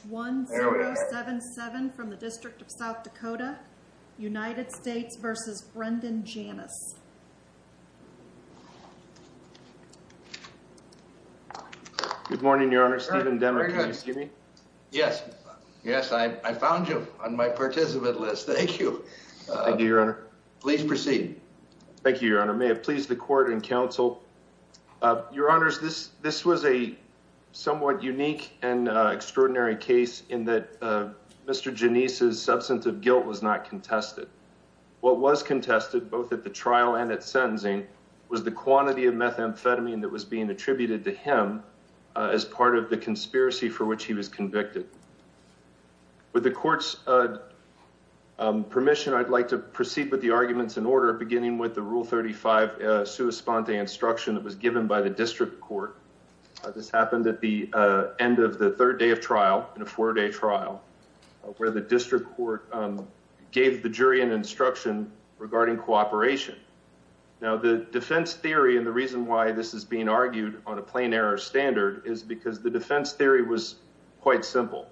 Good morning, Your Honor. Stephen Demmer, can you hear me? Yes. Yes, I found you on my participant list. Thank you. Thank you, Your Honor. Please proceed. Thank you, Your Honor. May it please the Court and Counsel. Your Honors, this was a somewhat unique and unusual case in that Mr. Janis' substance of guilt was not contested. What was contested, both at the trial and at sentencing, was the quantity of methamphetamine that was being attributed to him as part of the conspiracy for which he was convicted. With the Court's permission, I'd like to proceed with the arguments in order, beginning with the Rule 35 sua sponte instruction that was given by the District Court. This happened at the end of the third day of trial, in a four-day trial, where the District Court gave the jury an instruction regarding cooperation. Now, the defense theory and the reason why this is being argued on a plain-error standard is because the defense theory was quite simple.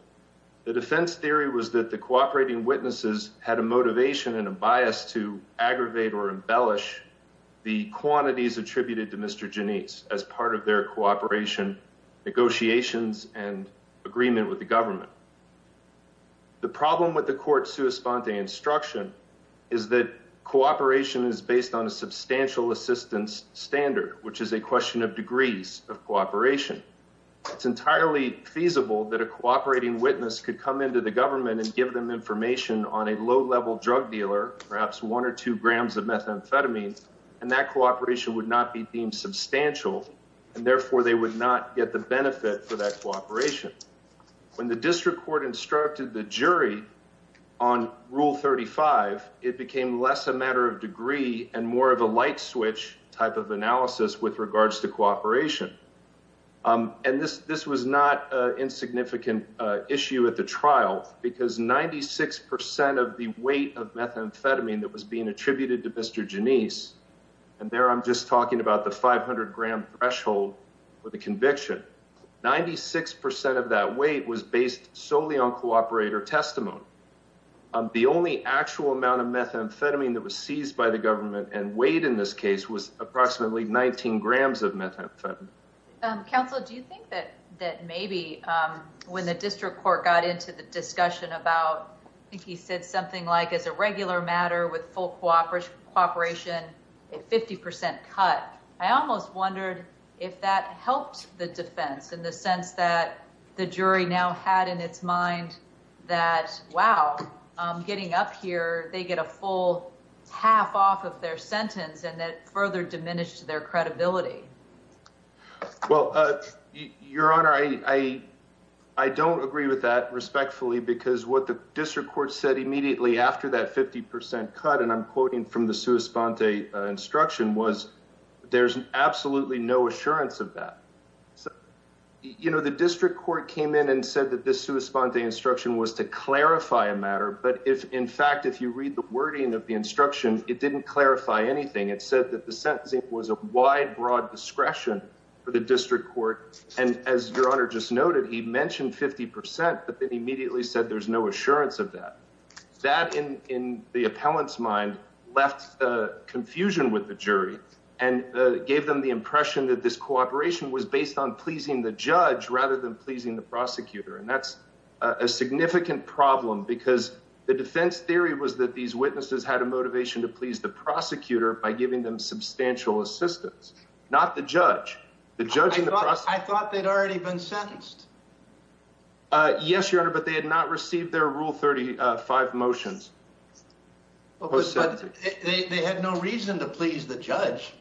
The defense theory was that the cooperating witnesses had a motivation and a bias to aggravate or embellish the quantities agreement with the government. The problem with the Court's sua sponte instruction is that cooperation is based on a substantial assistance standard, which is a question of degrees of cooperation. It's entirely feasible that a cooperating witness could come into the government and give them information on a low-level drug dealer, perhaps one or two grams of methamphetamine, and that cooperation would not be deemed substantial, and therefore they would not get the benefit for that cooperation. When the District Court instructed the jury on Rule 35, it became less a matter of degree and more of a light-switch type of analysis with regards to cooperation. And this was not an insignificant issue at the trial, because 96% of the weight of methamphetamine that was being attributed to Mr. Genese, and there I'm just talking about the 500-gram threshold for the conviction, 96% of that weight was based solely on cooperator testimony. The only actual amount of methamphetamine that was seized by the government and weighed in this case was approximately 19 grams of methamphetamine. Counsel, do you think that maybe when the District Court got into the discussion about, I think he said something like, as a regular matter with full cooperation, a 50% cut, I almost wondered if that helped the defense in the sense that the jury now had in its mind that, wow, getting up here, they get a full half off of their sentence, and that further diminished their credibility. Well, Your Honor, I don't agree with that respectfully, because what the District Court said immediately after that 50% cut, and I'm quoting from the sua sponte instruction, was there's absolutely no assurance of that. You know, the District Court came in and said that this sua sponte instruction was to clarify a matter, but if in fact, if you read the wording of the instruction, it didn't clarify anything. It said that the sentencing was a wide, broad discretion for the District Court, and as Your Honor just noted, he mentioned 50%, but then immediately said there's no assurance of that. That, in the appellant's mind, left confusion with the jury and gave them the impression that this cooperation was based on pleasing the judge rather than pleasing the prosecutor, and that's a significant problem because the jury had a motivation to please the prosecutor by giving them substantial assistance, not the judge. I thought they'd already been sentenced. Yes, Your Honor, but they had not received their Rule 35 motions. But they had no reason to please the judge.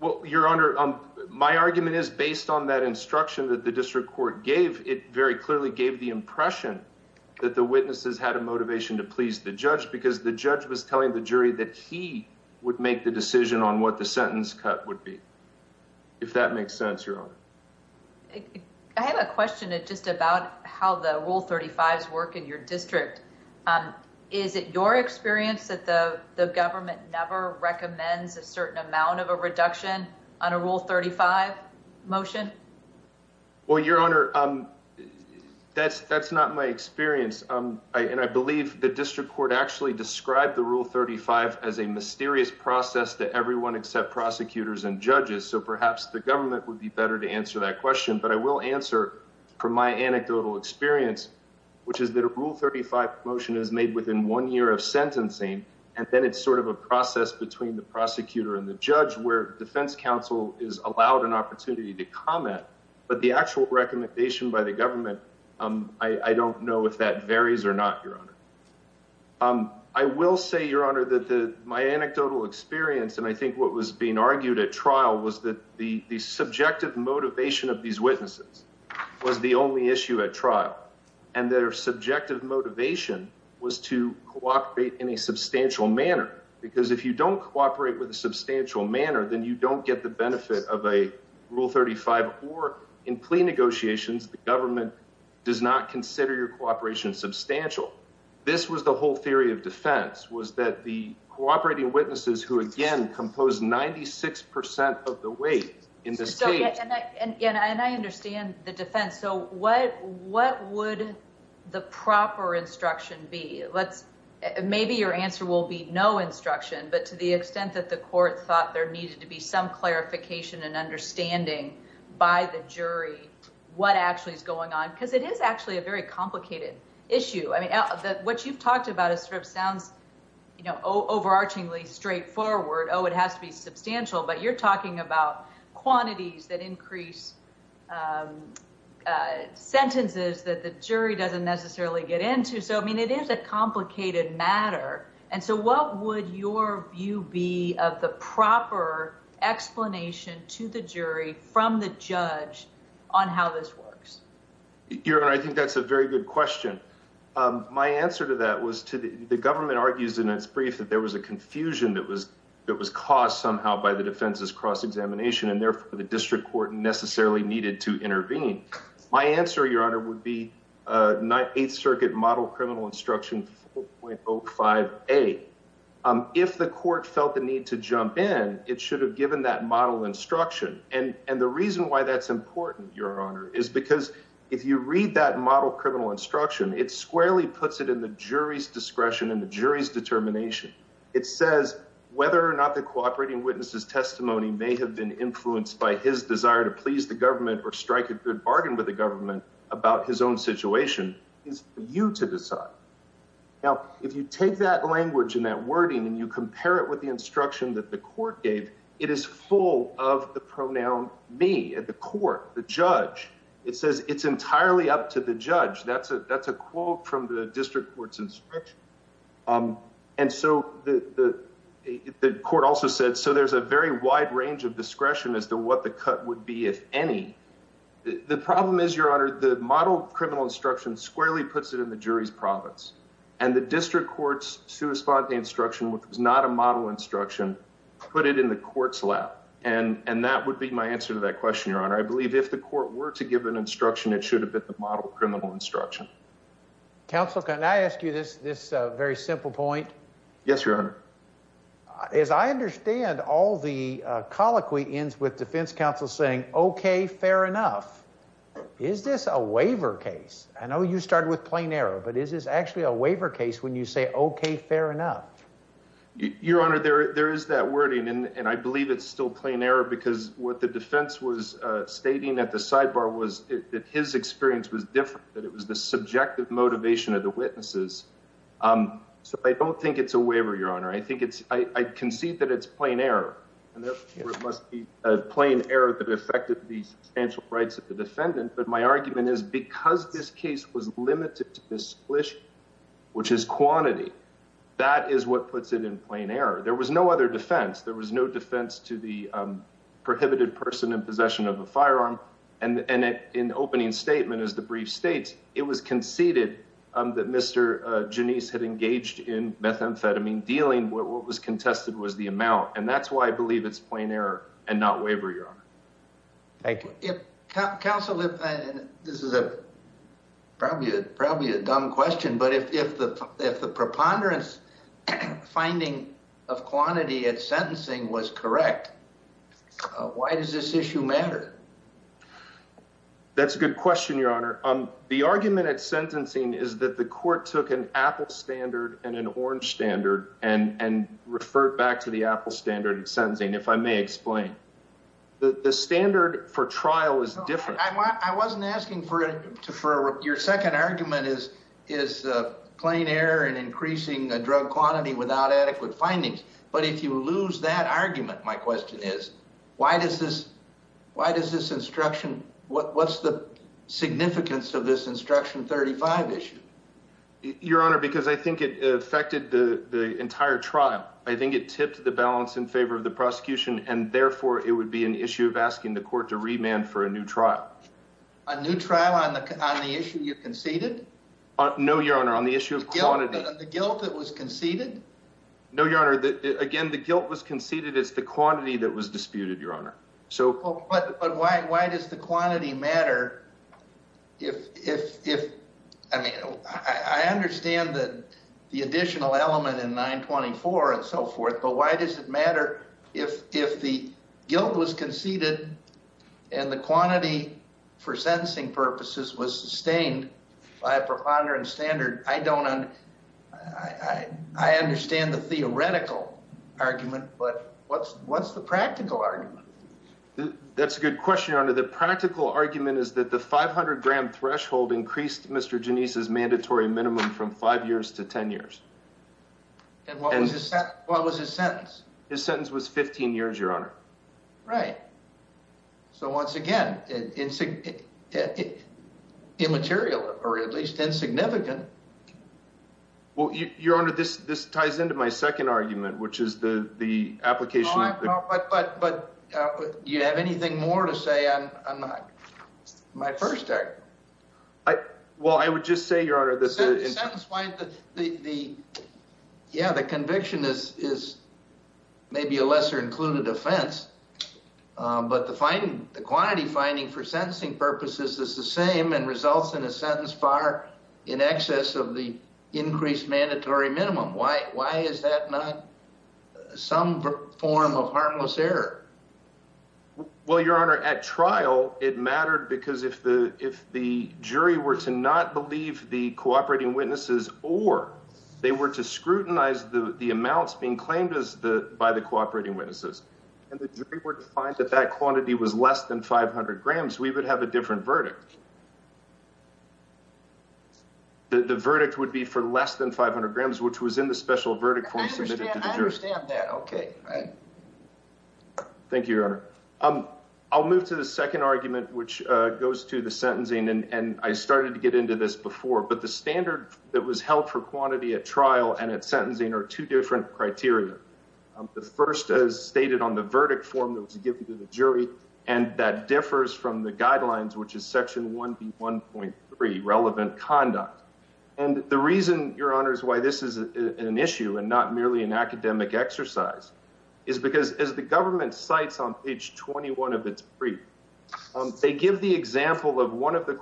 Well, Your Honor, my argument is based on that instruction that the District Court gave. It very clearly gave the impression that the witnesses had a motivation to please the judge because the judge was telling the jury that he would make the decision on what the sentence cut would be, if that makes sense, Your Honor. I have a question just about how the Rule 35s work in your district. Is it your experience that the government never recommends a certain amount of a reduction on a Rule 35 motion? Well, Your Honor, that's not my experience, and I believe the District Court actually described the Rule 35 as a mysterious process that everyone except prosecutors and judges, so perhaps the government would be better to answer that question. But I will answer from my anecdotal experience, which is that a Rule 35 motion is made within one year of sentencing, and then it's sort of a process between the prosecutor and the judge where defense counsel is allowed an opportunity to comment. But the actual recommendation by the government, I don't know if that varies or not, Your Honor. I will say, Your Honor, that my anecdotal experience, and I think what was being argued at trial, was that the subjective motivation of these witnesses was the only issue at trial, and their subjective motivation was to cooperate in a substantial manner. Because if you don't cooperate with them in a substantial manner, then you don't get the benefit of a Rule 35, or in plea negotiations, the government does not consider your cooperation substantial. This was the whole theory of defense, was that the cooperating witnesses who, again, composed 96 percent of the weight in this case. And I understand the defense, so what would the proper instruction be? Maybe your answer will be no instruction, but to the extent that the court thought there needed to be some clarification and understanding by the jury what actually is going on, because it is actually a very complicated issue. I mean, what you've talked about sort of sounds, you know, overarchingly straightforward, oh, it has to be substantial, but you're talking about quantities that increase sentences that the jury doesn't necessarily get into. So, I mean, it is a complicated matter. And so what would your view be of the proper explanation to the jury from the judge on how this works? Your Honor, I think that's a very good question. My answer to that was, the government argues in its brief that there was a confusion that was caused somehow by the defense's cross-examination, and therefore the district court necessarily needed to intervene. My answer, Your Honor, would be Eighth Circuit Model Criminal Instruction 4.05a. If the court felt the need to jump in, it should have given that model instruction. And the reason why that's important, Your Honor, is because if you read that model criminal instruction, it squarely puts it in the jury's discretion and the jury's determination. It says whether or not the cooperating witness's testimony may have been influenced by his desire to please the government or strike a good bargain with the government about his own situation is for you to decide. Now, if you take that language and that wording and you compare it with the instruction that the court gave, it is full of the pronoun me at the court, the judge. It says it's entirely up to the judge. That's a quote from the district court's instruction. And so the court also said, so there's a very wide range of discretion as to what the cut would be, if any. The problem is, Your Honor, the model criminal instruction squarely puts it in the jury's province and the district court's sui sponte instruction, which was not a model instruction, put it in the court's lap. And that would be my answer to that question. Your Honor, I believe if the court were to give an instruction, it should have been the model criminal instruction. Counsel, can I ask you this? This very simple point? Yes, Your Honor. As I understand all the colloquy ends with defense counsel saying, okay, fair enough. Is this a waiver case? I know you started with plain error, but is this actually a waiver case when you say, okay, fair enough, Your Honor, there there is that wording and I believe it's still plain error because what the defense was stating at the sidebar was that his experience was different, that it was the subjective motivation of the witnesses. Um, so I don't think it's a waiver, Your Honor. I think it's I concede that it's plain error and there must be a plain error that affected the substantial rights of the defendant. But my argument is because this case was limited to this wish, which is quantity, that is what puts it in plain error. There was no other defense. There was no defense to the prohibited person in possession of a firearm. And in opening statement as the brief states, it was conceded that Mr. Janice had engaged in methamphetamine dealing. What was contested was the amount. And that's why I believe it's plain error and not waiver. Your Honor. Thank you. Council. This is a probably probably a dumb question. But if the preponderance finding of quantity at sentencing was correct, why does this issue matter? That's a good question, Your Honor. Um, the argument at sentencing is that the court took an apple standard and an orange standard and and referred back to the apple standard of sentencing. If I may explain, the standard for trial is different. I wasn't asking for it for your second argument is is plain error and increasing a drug quantity without adequate findings. But if you lose that argument, my question is, why does this? Why does this instruction? What? What's the significance of this instruction? 35 issue, Your Honor? Because I think it affected the entire trial. I think it tipped the balance in favor of the prosecution, and therefore it would be an issue of asking the court to remand for a new trial, a new trial on the on the issue you conceded. No, Your Honor. On the issue of quantity, guilt that was conceded. No, Your Honor. Again, the guilt was conceded. It's the quantity that was disputed, Your Honor. So why? Why does the quantity matter? If if if I mean, I understand that the additional element in 9 24 and so forth, but why does it matter if if the guilt was conceded and the quantity for sentencing purposes was sustained by a preponderance standard? I don't. I I understand the theoretical argument, but what's what's the practical argument? That's a good question. Under the practical argument is that the 500 gram threshold increased Mr Denise's mandatory minimum from five years to 10 years. And what was this? What was his sentence? His sentence was 15 years, Your Honor. Right. So once again, it's a it immaterial or at least insignificant. Well, Your Honor, this this ties into my second argument, which is the the application. But you have anything more to say? I'm not my first day. Well, I would just say, Your Honor, that the the the yeah, the conviction is is maybe a lesser included offense. But the finding the quantity finding for sentencing purposes is the same and results in a sentence far in excess of the increased mandatory minimum. Why? Why is that not some form of harmless error? Well, Your Honor, at trial, it mattered because if the if the jury were to not believe the cooperating witnesses or they were to scrutinize the amounts being claimed as the by the cooperating witnesses and the jury were to find that that quantity was less than 500 grams, we would have a different verdict. The verdict would be for less than 500 grams, which was in the special verdict. I understand that. OK. Thank you, Your Honor. I'll move to the second argument, which goes to the sentencing. And I started to get into this before. But the standard that was held for the sentencing was two different criteria. The first is stated on the verdict form that was given to the jury. And that differs from the guidelines, which is Section 1.1.3 relevant conduct. And the reason, Your Honor, is why this is an issue and not merely an academic exercise is because as the government cites on page 21 of its brief, they give the example of one of the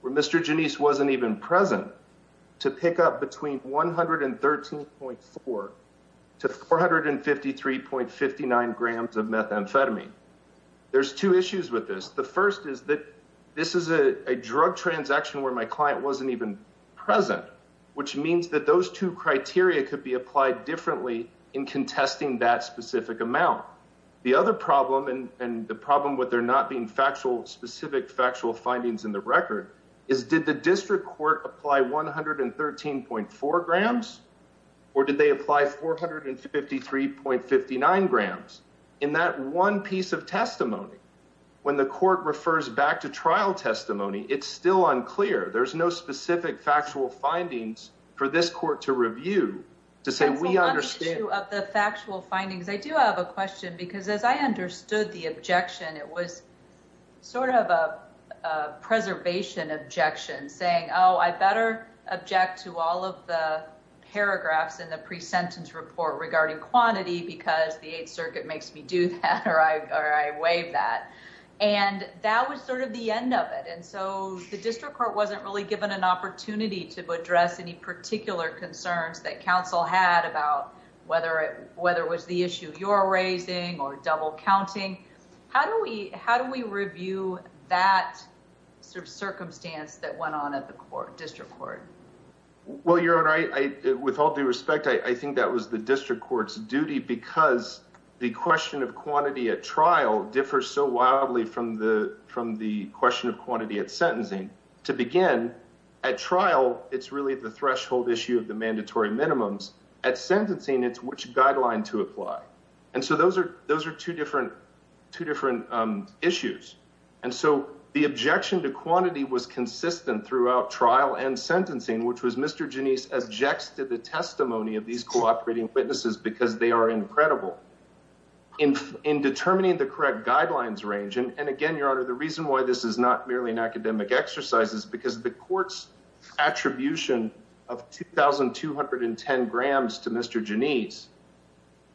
where Mr. Denise wasn't even present to pick up between 113.4 to 453.59 grams of methamphetamine. There's two issues with this. The first is that this is a drug transaction where my client wasn't even present, which means that those two criteria could be applied differently in contesting that specific amount. The other problem and the problem with there not being factual specific findings in the record is did the district court apply 113.4 grams or did they apply 453.59 grams in that one piece of testimony? When the court refers back to trial testimony, it's still unclear. There's no specific factual findings for this court to review to say we understand the factual findings. I do have a question because as I understood the objection, it was sort of a preservation objection saying, oh, I better object to all of the paragraphs in the pre-sentence report regarding quantity because the Eighth Circuit makes me do that or I waive that. And that was sort of the end of it. And so the district court wasn't really given an opportunity to address any particular concerns that counsel had about whether it was the issue you're raising or double counting. How do we review that sort of circumstance that went on at the district court? Well, Your Honor, with all due respect, I think that was the district court's duty because the question of quantity at trial differs so wildly from the question of quantity at sentencing. To begin, at trial, it's really the threshold issue of the mandatory minimums. At sentencing, it's which guideline to apply. And so those are two different issues. And so the objection to quantity was consistent throughout trial and sentencing, which was Mr. Janisse objects to the testimony of these cooperating witnesses because they are incredible in determining the correct guidelines range. And again, Your Honor, the reason why this is not merely an academic exercise is because the court's attribution of 2,210 grams to Mr. Janisse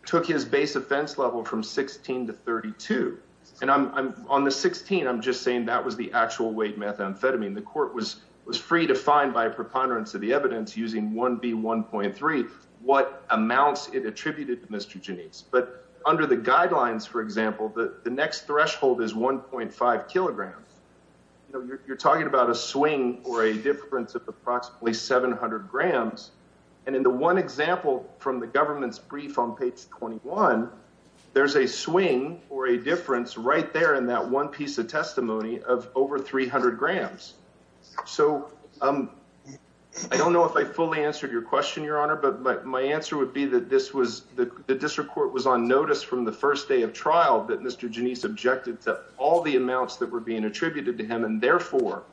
took his base offense level from 16 to 32. And I'm on the 16. I'm just saying that was the actual weight methamphetamine. The court was was free to find by preponderance of the evidence using 1B1.3 what amounts it attributed to Mr. Janisse. But under the guidelines, for example, the next threshold is 1.5 kilograms. You're talking about a swing or a difference of approximately 700 grams. And in the one example from the government's brief on page 21, there's a swing or a difference right there in that one piece of testimony of over 300 grams. So I don't know if I fully answered your question, Your Honor, but my answer would be that this was the district court was on notice from the first day of trial that Mr. Janisse objected to all the amounts that were being attributed to him. And therefore,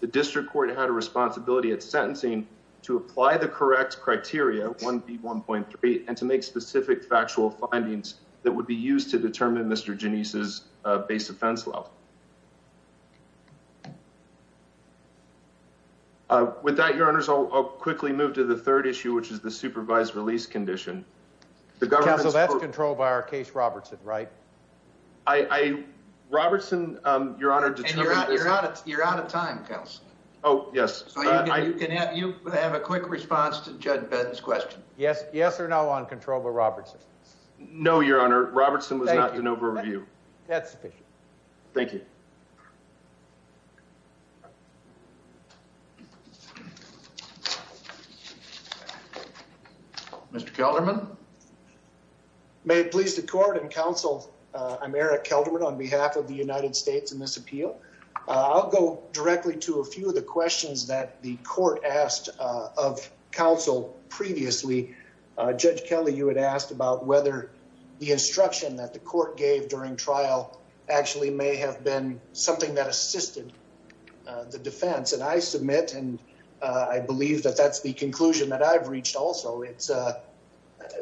the district court had a responsibility at sentencing to apply the correct criteria 1B1.3 and to make specific factual findings that would be used to determine Mr. Janisse's base offense level. With that, Your Honors, I'll quickly move to the third issue, which is the supervised release condition. Counsel, that's controlled by our case, Robertson, right? Robertson, Your Honor, determined... You're out of time, Counsel. Oh, yes. So you can have a quick response to Judge Ben's question. Yes or no on control by Robertson? No, Your Honor. Robertson was not an overview. That's sufficient. Thank you. Mr. Kelderman? May it please the court and counsel, I'm Eric Kelderman on behalf of the United States in this appeal. I'll go directly to a few of the questions that the court asked of counsel previously. Judge Kelly, you had asked about whether the instruction that the court gave during trial actually may have been something that assisted the defense. And I submit and I believe that that's the conclusion that I've reached also. It's a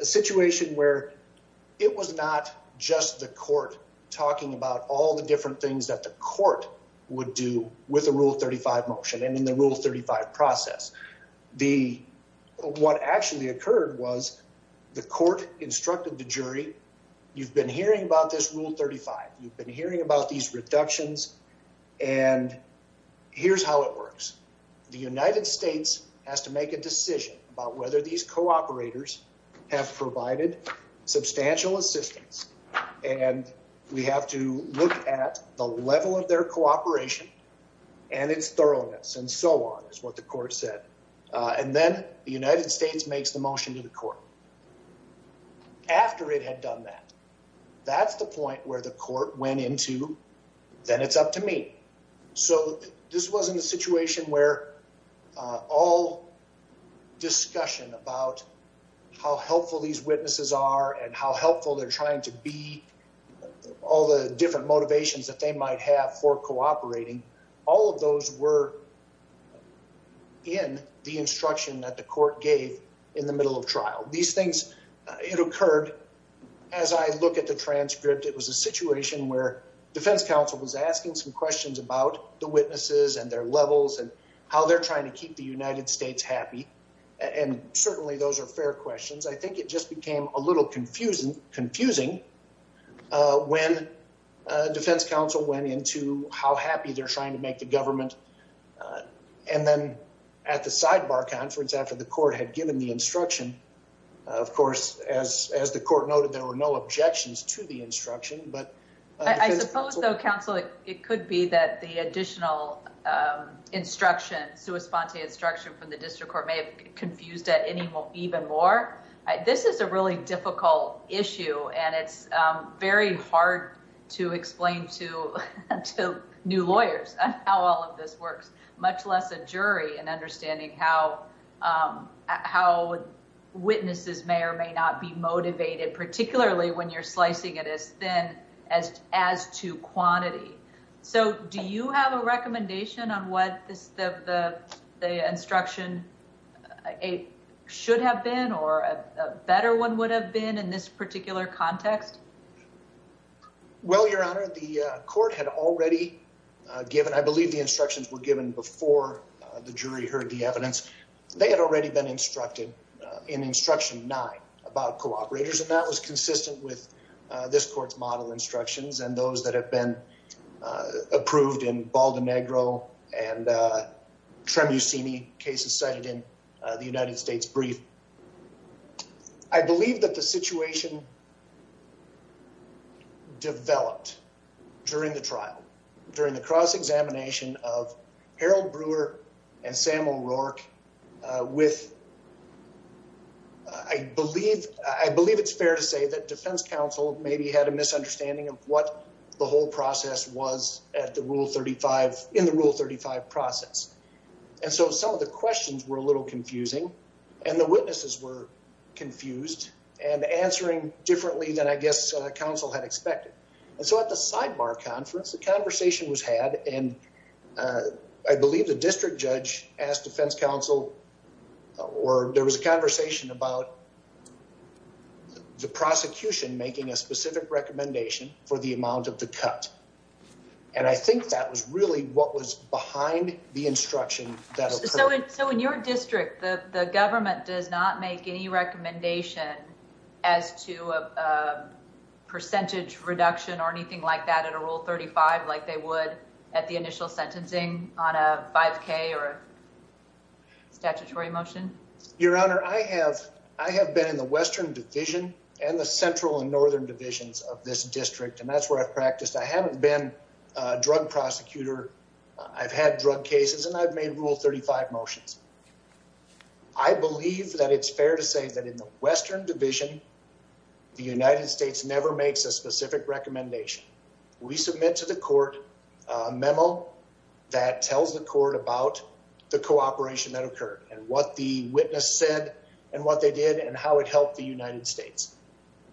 situation where it was not just the court talking about all the different things that the court would do with a Rule 35 motion and in the Rule 35 process. What actually occurred was the court instructed the jury, you've been hearing about this Rule 35. You've been hearing about these reductions and here's how it works. The United States has to make a decision about whether these co-operators have provided substantial assistance. And we have to look at the level of their cooperation and its thoroughness and so on, is what the court said. And then the United States makes the motion to the court. After it had done that, that's the point where the court went into, then it's up to me. So this wasn't a situation where all discussion about how helpful these witnesses are and how helpful they're trying to be, all the different motivations that they might have for cooperating, all of those were in the instruction that the court gave in the middle of trial. These things, it occurred as I look at the transcript, it was a situation where defense counsel was asking some questions about the witnesses and their levels and how they're trying to keep the United States happy. And certainly those are fair questions. I think it just became a little confusing when defense counsel went into how happy they're trying to make the government. And then at the sidebar conference, after the court had given the instruction, of course, as the court noted, there were no objections to the instruction. But I suppose though, counsel, it could be that the additional instruction, sua sponte instruction from the district court may have confused it even more. This is a really difficult issue and it's very hard to explain to new lawyers how all of this works, much less a jury and understanding how witnesses may or may not be motivated, particularly when you're slicing it as thin as to quantity. So do you have a recommendation on what the instruction should have been or a better one would have been in this particular context? Well, your honor, the court had already given, I believe the instructions were given before the jury heard the evidence. They had already been instructed in instruction nine about cooperators and that was consistent with this court's model instructions and those that have been approved in Baldinegro and Tremucini cases cited in the United States brief. I believe that the situation developed during the trial, during the cross-examination of Harold Brewer and Samuel Rourke with, I believe it's fair to say that defense counsel maybe had a misunderstanding of what the whole process was at the rule 35, in the rule 35 process. And so some of the questions were a little confusing and the witnesses were confused and answering differently than I guess counsel had expected. And so at the sidebar conference, the conversation was had and I believe the district judge asked defense counsel, or there was a conversation about the prosecution making a specific recommendation for the amount of the cut. And I think that was really what was behind the instruction. So in your district, the government does not make any recommendation as to a percentage reduction or anything like at a rule 35, like they would at the initial sentencing on a 5k or statutory motion? Your Honor, I have been in the Western Division and the Central and Northern Divisions of this district. And that's where I've practiced. I haven't been a drug prosecutor. I've had drug cases and I've made rule 35 motions. I believe that it's fair to say that in the Western Division, the United States never makes a specific recommendation. We submit to the court a memo that tells the court about the cooperation that occurred and what the witness said and what they did and how it helped the United States.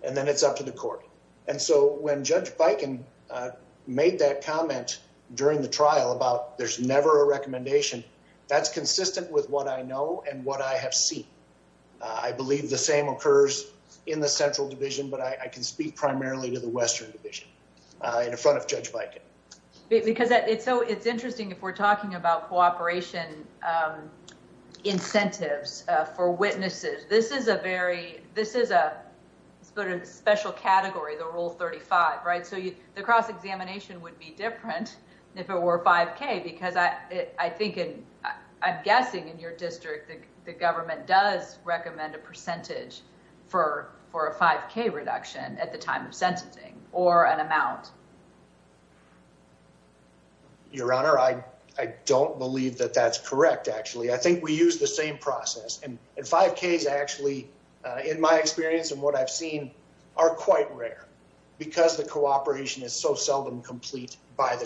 And then it's up to the court. And so when Judge Bikin made that comment during the trial about there's never a recommendation, that's consistent with what I know and what I have seen. I believe the same occurs in the Central Division, but I can speak primarily to the Western Division in front of Judge Bikin. Because it's so it's interesting if we're talking about cooperation incentives for witnesses. This is a very, this is a special category, the rule 35, right? So the cross-examination would be different if it were 5k because I think and I'm guessing in your district that the government does recommend a percentage for a 5k reduction at the time of sentencing or an amount. Your Honor, I don't believe that that's correct actually. I think we use the same process and 5k's actually in my experience and what I've seen are quite rare because the cooperation is so by the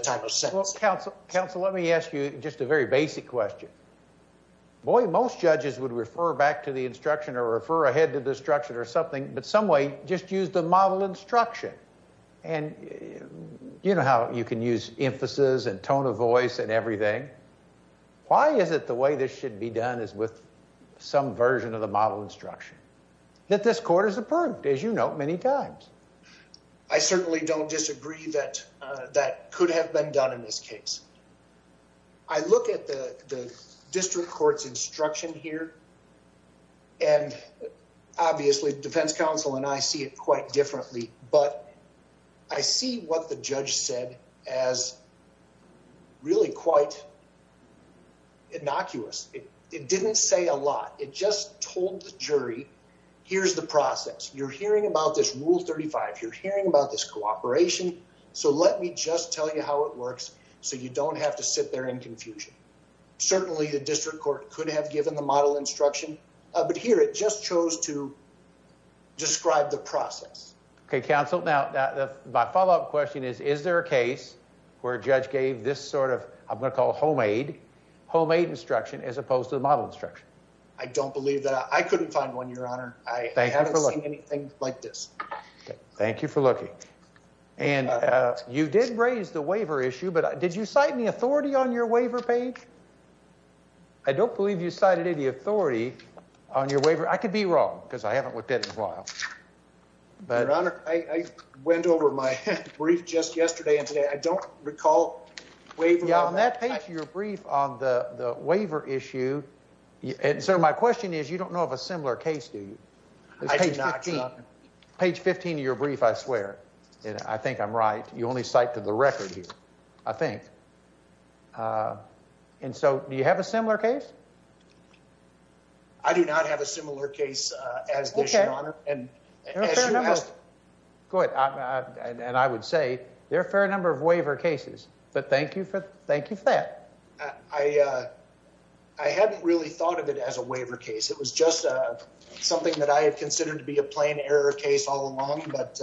time of sentencing. Counsel, let me ask you just a very basic question. Boy, most judges would refer back to the instruction or refer ahead to the instruction or something, but some way just use the model instruction. And you know how you can use emphasis and tone of voice and everything. Why is it the way this should be done is with some version of the model instruction? That this court has approved, as you know, many times. I certainly don't disagree that that could have been done in this case. I look at the district court's instruction here and obviously defense counsel and I see it quite differently, but I see what the judge said as really quite innocuous. It didn't say a lot. It told the jury, here's the process. You're hearing about this rule 35. You're hearing about this cooperation, so let me just tell you how it works so you don't have to sit there in confusion. Certainly the district court could have given the model instruction, but here it just chose to describe the process. Okay, counsel. Now my follow-up question is, is there a case where a judge gave this sort of, I'm going to call homemade, homemade instruction as opposed to the model instruction? I don't believe that. I couldn't find one, your honor. I haven't seen anything like this. Thank you for looking. And you did raise the waiver issue, but did you cite any authority on your waiver page? I don't believe you cited any authority on your waiver. I could be wrong because I haven't looked at it in a while. Your honor, I went over my brief just yesterday and today. I don't recall. Yeah, on that page of your brief on the waiver issue, and so my question is, you don't know of a similar case, do you? I do not, your honor. Page 15 of your brief, I swear, and I think I'm right. You only cite to the record here, I think. And so do you have a similar case? I do not have a similar case as this, your honor. There are a fair number. Good. And I would say there are a fair number of waiver cases, but thank you for that. I hadn't really thought of it as a waiver case. It was just something that I had considered to be a plain error case all along, but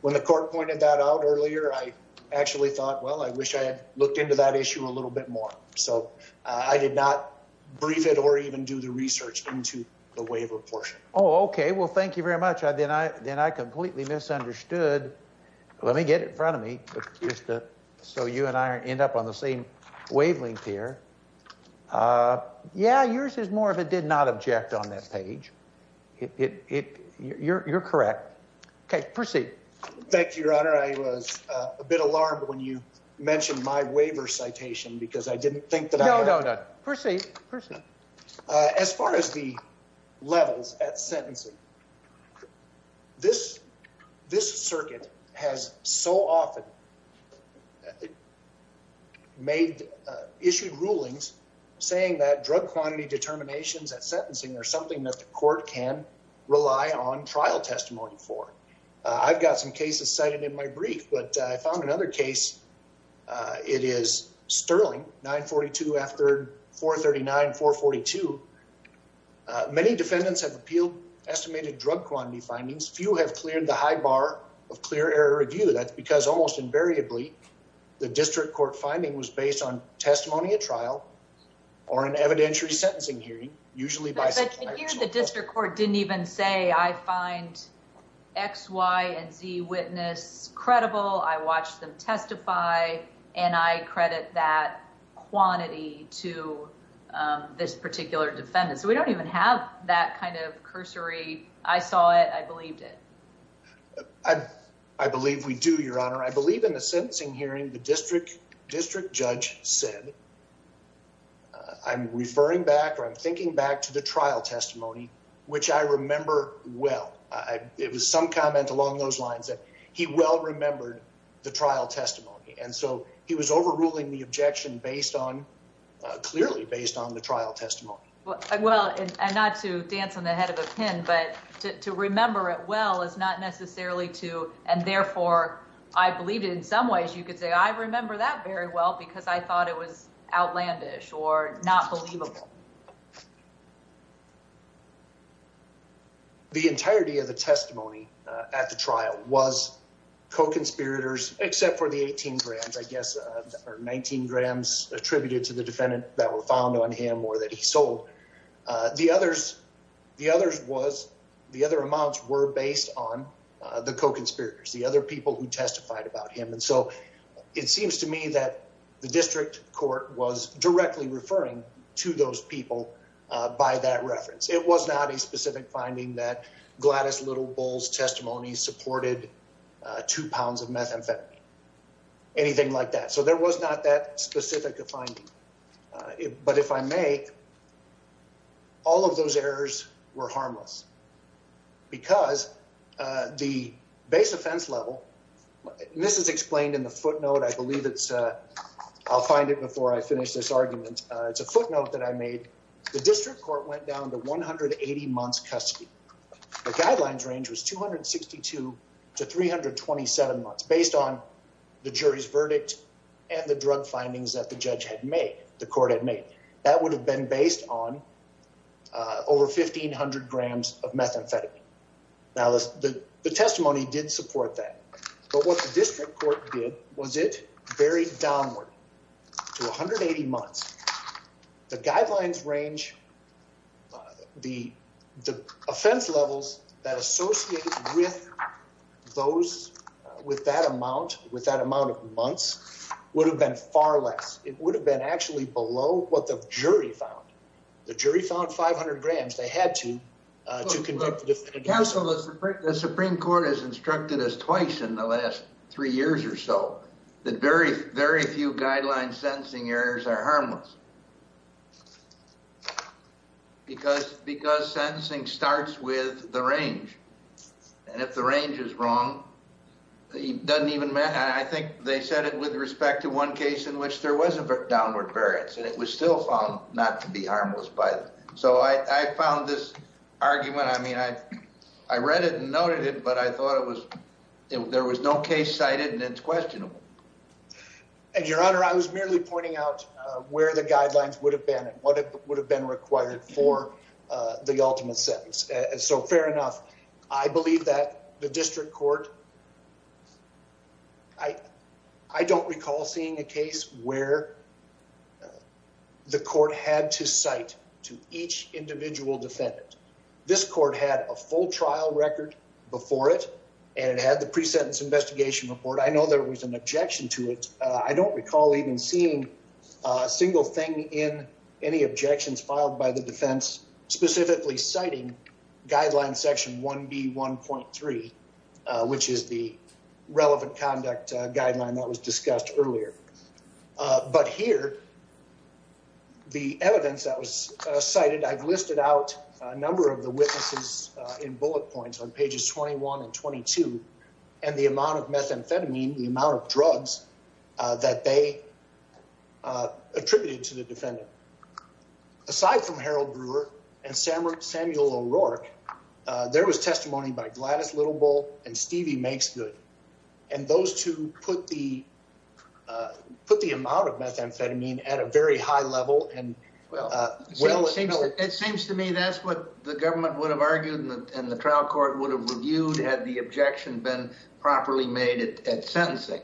when the court pointed that out earlier, I actually thought, well, I wish I had looked into that issue a little bit more. So I did not brief it or even do the research into the waiver portion. Oh, okay. Well, thank you very much. Then I completely misunderstood. Let me get it in front of me, so you and I end up on the same wavelength here. Yeah, yours is more of a did not object on that page. You're correct. Okay, proceed. Thank you, your honor. I was a bit alarmed when you mentioned my waiver citation because I didn't think that I... No, no, no. Proceed, proceed. As far as the levels at sentencing, this circuit has so often issued rulings saying that drug quantity determinations at sentencing are something that the court can rely on trial testimony for. I've got some cases cited in my brief, but I found another case. It is Sterling 942 after 439-442. Many defendants have appealed estimated drug quantity findings. Few have cleared the high bar of clear error review. That's because almost invariably, the district court finding was based on testimony at trial or an evidentiary sentencing hearing, usually by... But here the district court didn't even say, I find X, Y, and Z witness credible. I watched them testify and I credit that quantity to this particular defendant. So we don't even have that kind of cursory, I saw it, I believed it. I believe we do, your honor. I believe in the sentencing hearing, the district judge said, I'm referring back or I'm thinking back to the trial testimony, which I remember well. It was some comment along those lines that he well remembered the trial testimony. And so he was overruling the objection clearly based on the trial testimony. Well, and not to dance on the head of a pin, but to remember it well is not necessarily to, and therefore I believed it in some ways, you could say, I remember that very well because I thought it was outlandish or not believable. The entirety of the testimony at the trial was co-conspirators, except for the 18 grams, I guess, or 19 grams attributed to the defendant that were found on him or that he sold. The others was, the other amounts were based on the co-conspirators, the other people who testified about him. And so it seems to me that the district court was directly referring to those people by that reference. It was not a specific finding that Gladys Little Bull's testimony supported two pounds of methamphetamine, anything like that. So there was not that specific finding. But if I may, all of those errors were harmless because the base offense level, this is explained in the footnote. I believe it's, I'll find it before I finish this argument. It's a footnote that I made. The district court went down to 180 months custody. The guidelines range was 262 to 327 months based on the jury's verdict and the drug findings that the judge had made, the court had made. That would have been based on over 1,500 grams of methamphetamine. Now the testimony did support that, but what the district court did was it went straight downward to 180 months. The guidelines range, the offense levels that associated with those, with that amount, with that amount of months would have been far less. It would have been actually below what the jury found. The jury found 500 grams. They had to, to convict. The Supreme Court has instructed us twice in the last three years or so, that very, very few guidelines sentencing errors are harmless. Because, because sentencing starts with the range and if the range is wrong, it doesn't even matter. I think they said it with respect to one case in which there was a downward variance and it was still found not to be harmless by them. So I found this argument, I mean, I read it and noted it, but I thought it was, there was no case cited and it's questionable. And your honor, I was merely pointing out where the guidelines would have been and what would have been required for the ultimate sentence. So fair enough. I believe that the district court, I don't recall seeing a case where the court had to cite to each individual defendant. This court had a full trial record before it and it had the pre-sentence investigation report. I know there was an objection to it. I don't recall even seeing a single thing in any objections filed by the defense, specifically citing guideline section 1B1.3, which is the relevant conduct guideline that was discussed earlier. But here, the evidence that was cited, I've listed out a number of the witnesses in bullet points on pages 21 and 22, and the amount of methamphetamine, the amount of drugs that they attributed to the defendant. Aside from Harold Brewer and Samuel O'Rourke, there was testimony by Gladys Littlebull and Stevie Makesgood. And those two put the amount of methamphetamine at a very high level. It seems to me that's what the government would have argued and the trial court would have reviewed had the objection been properly made at sentencing.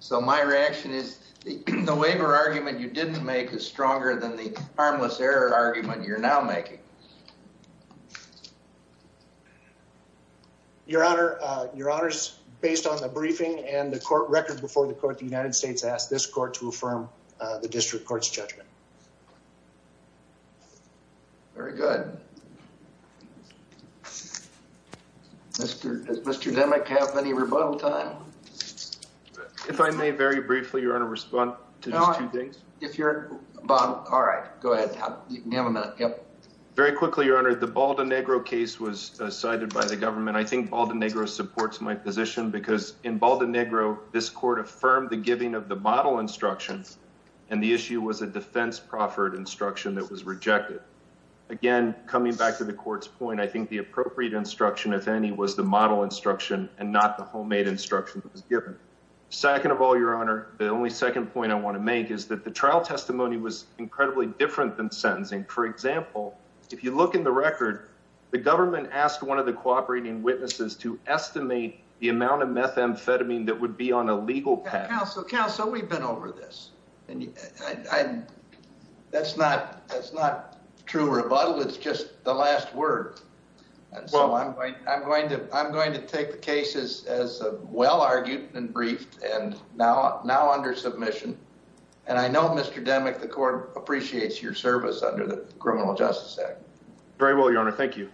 So my reaction is the waiver argument you didn't make is stronger than the harmless error argument you're now making. Your Honor, based on the briefing and the court record before the court, the United States asked this court to affirm the district court's judgment. Very good. Does Mr. Demick have any rebuttal time? If I may, very briefly, Your Honor, respond to these two things. If you're, Bob, all right, go ahead. You have a minute. Very quickly, Your Honor, the Baldenegro case was cited by the government. I think Baldenegro supports my position because in Baldenegro, this court affirmed the giving of the bottle instruction and the issue was a defense proffered instruction that was rejected. Again, coming back to the court's point, I think the appropriate instruction, if any, was the model instruction and not the homemade instruction that was given. Second of all, Your Honor, the only second point I want to make is that the trial testimony was incredibly different than sentencing. For example, if you look in the record, the government asked one of the cooperating witnesses to estimate the amount of methamphetamine that would be on a legal patent. Counsel, we've been over this. That's not true rebuttal. It's just the last word. I'm going to take the case as well argued and briefed and now under submission. I know, Mr. Demick, the court appreciates your service under the Criminal Justice Act. Very well, Your Honor. Thank you.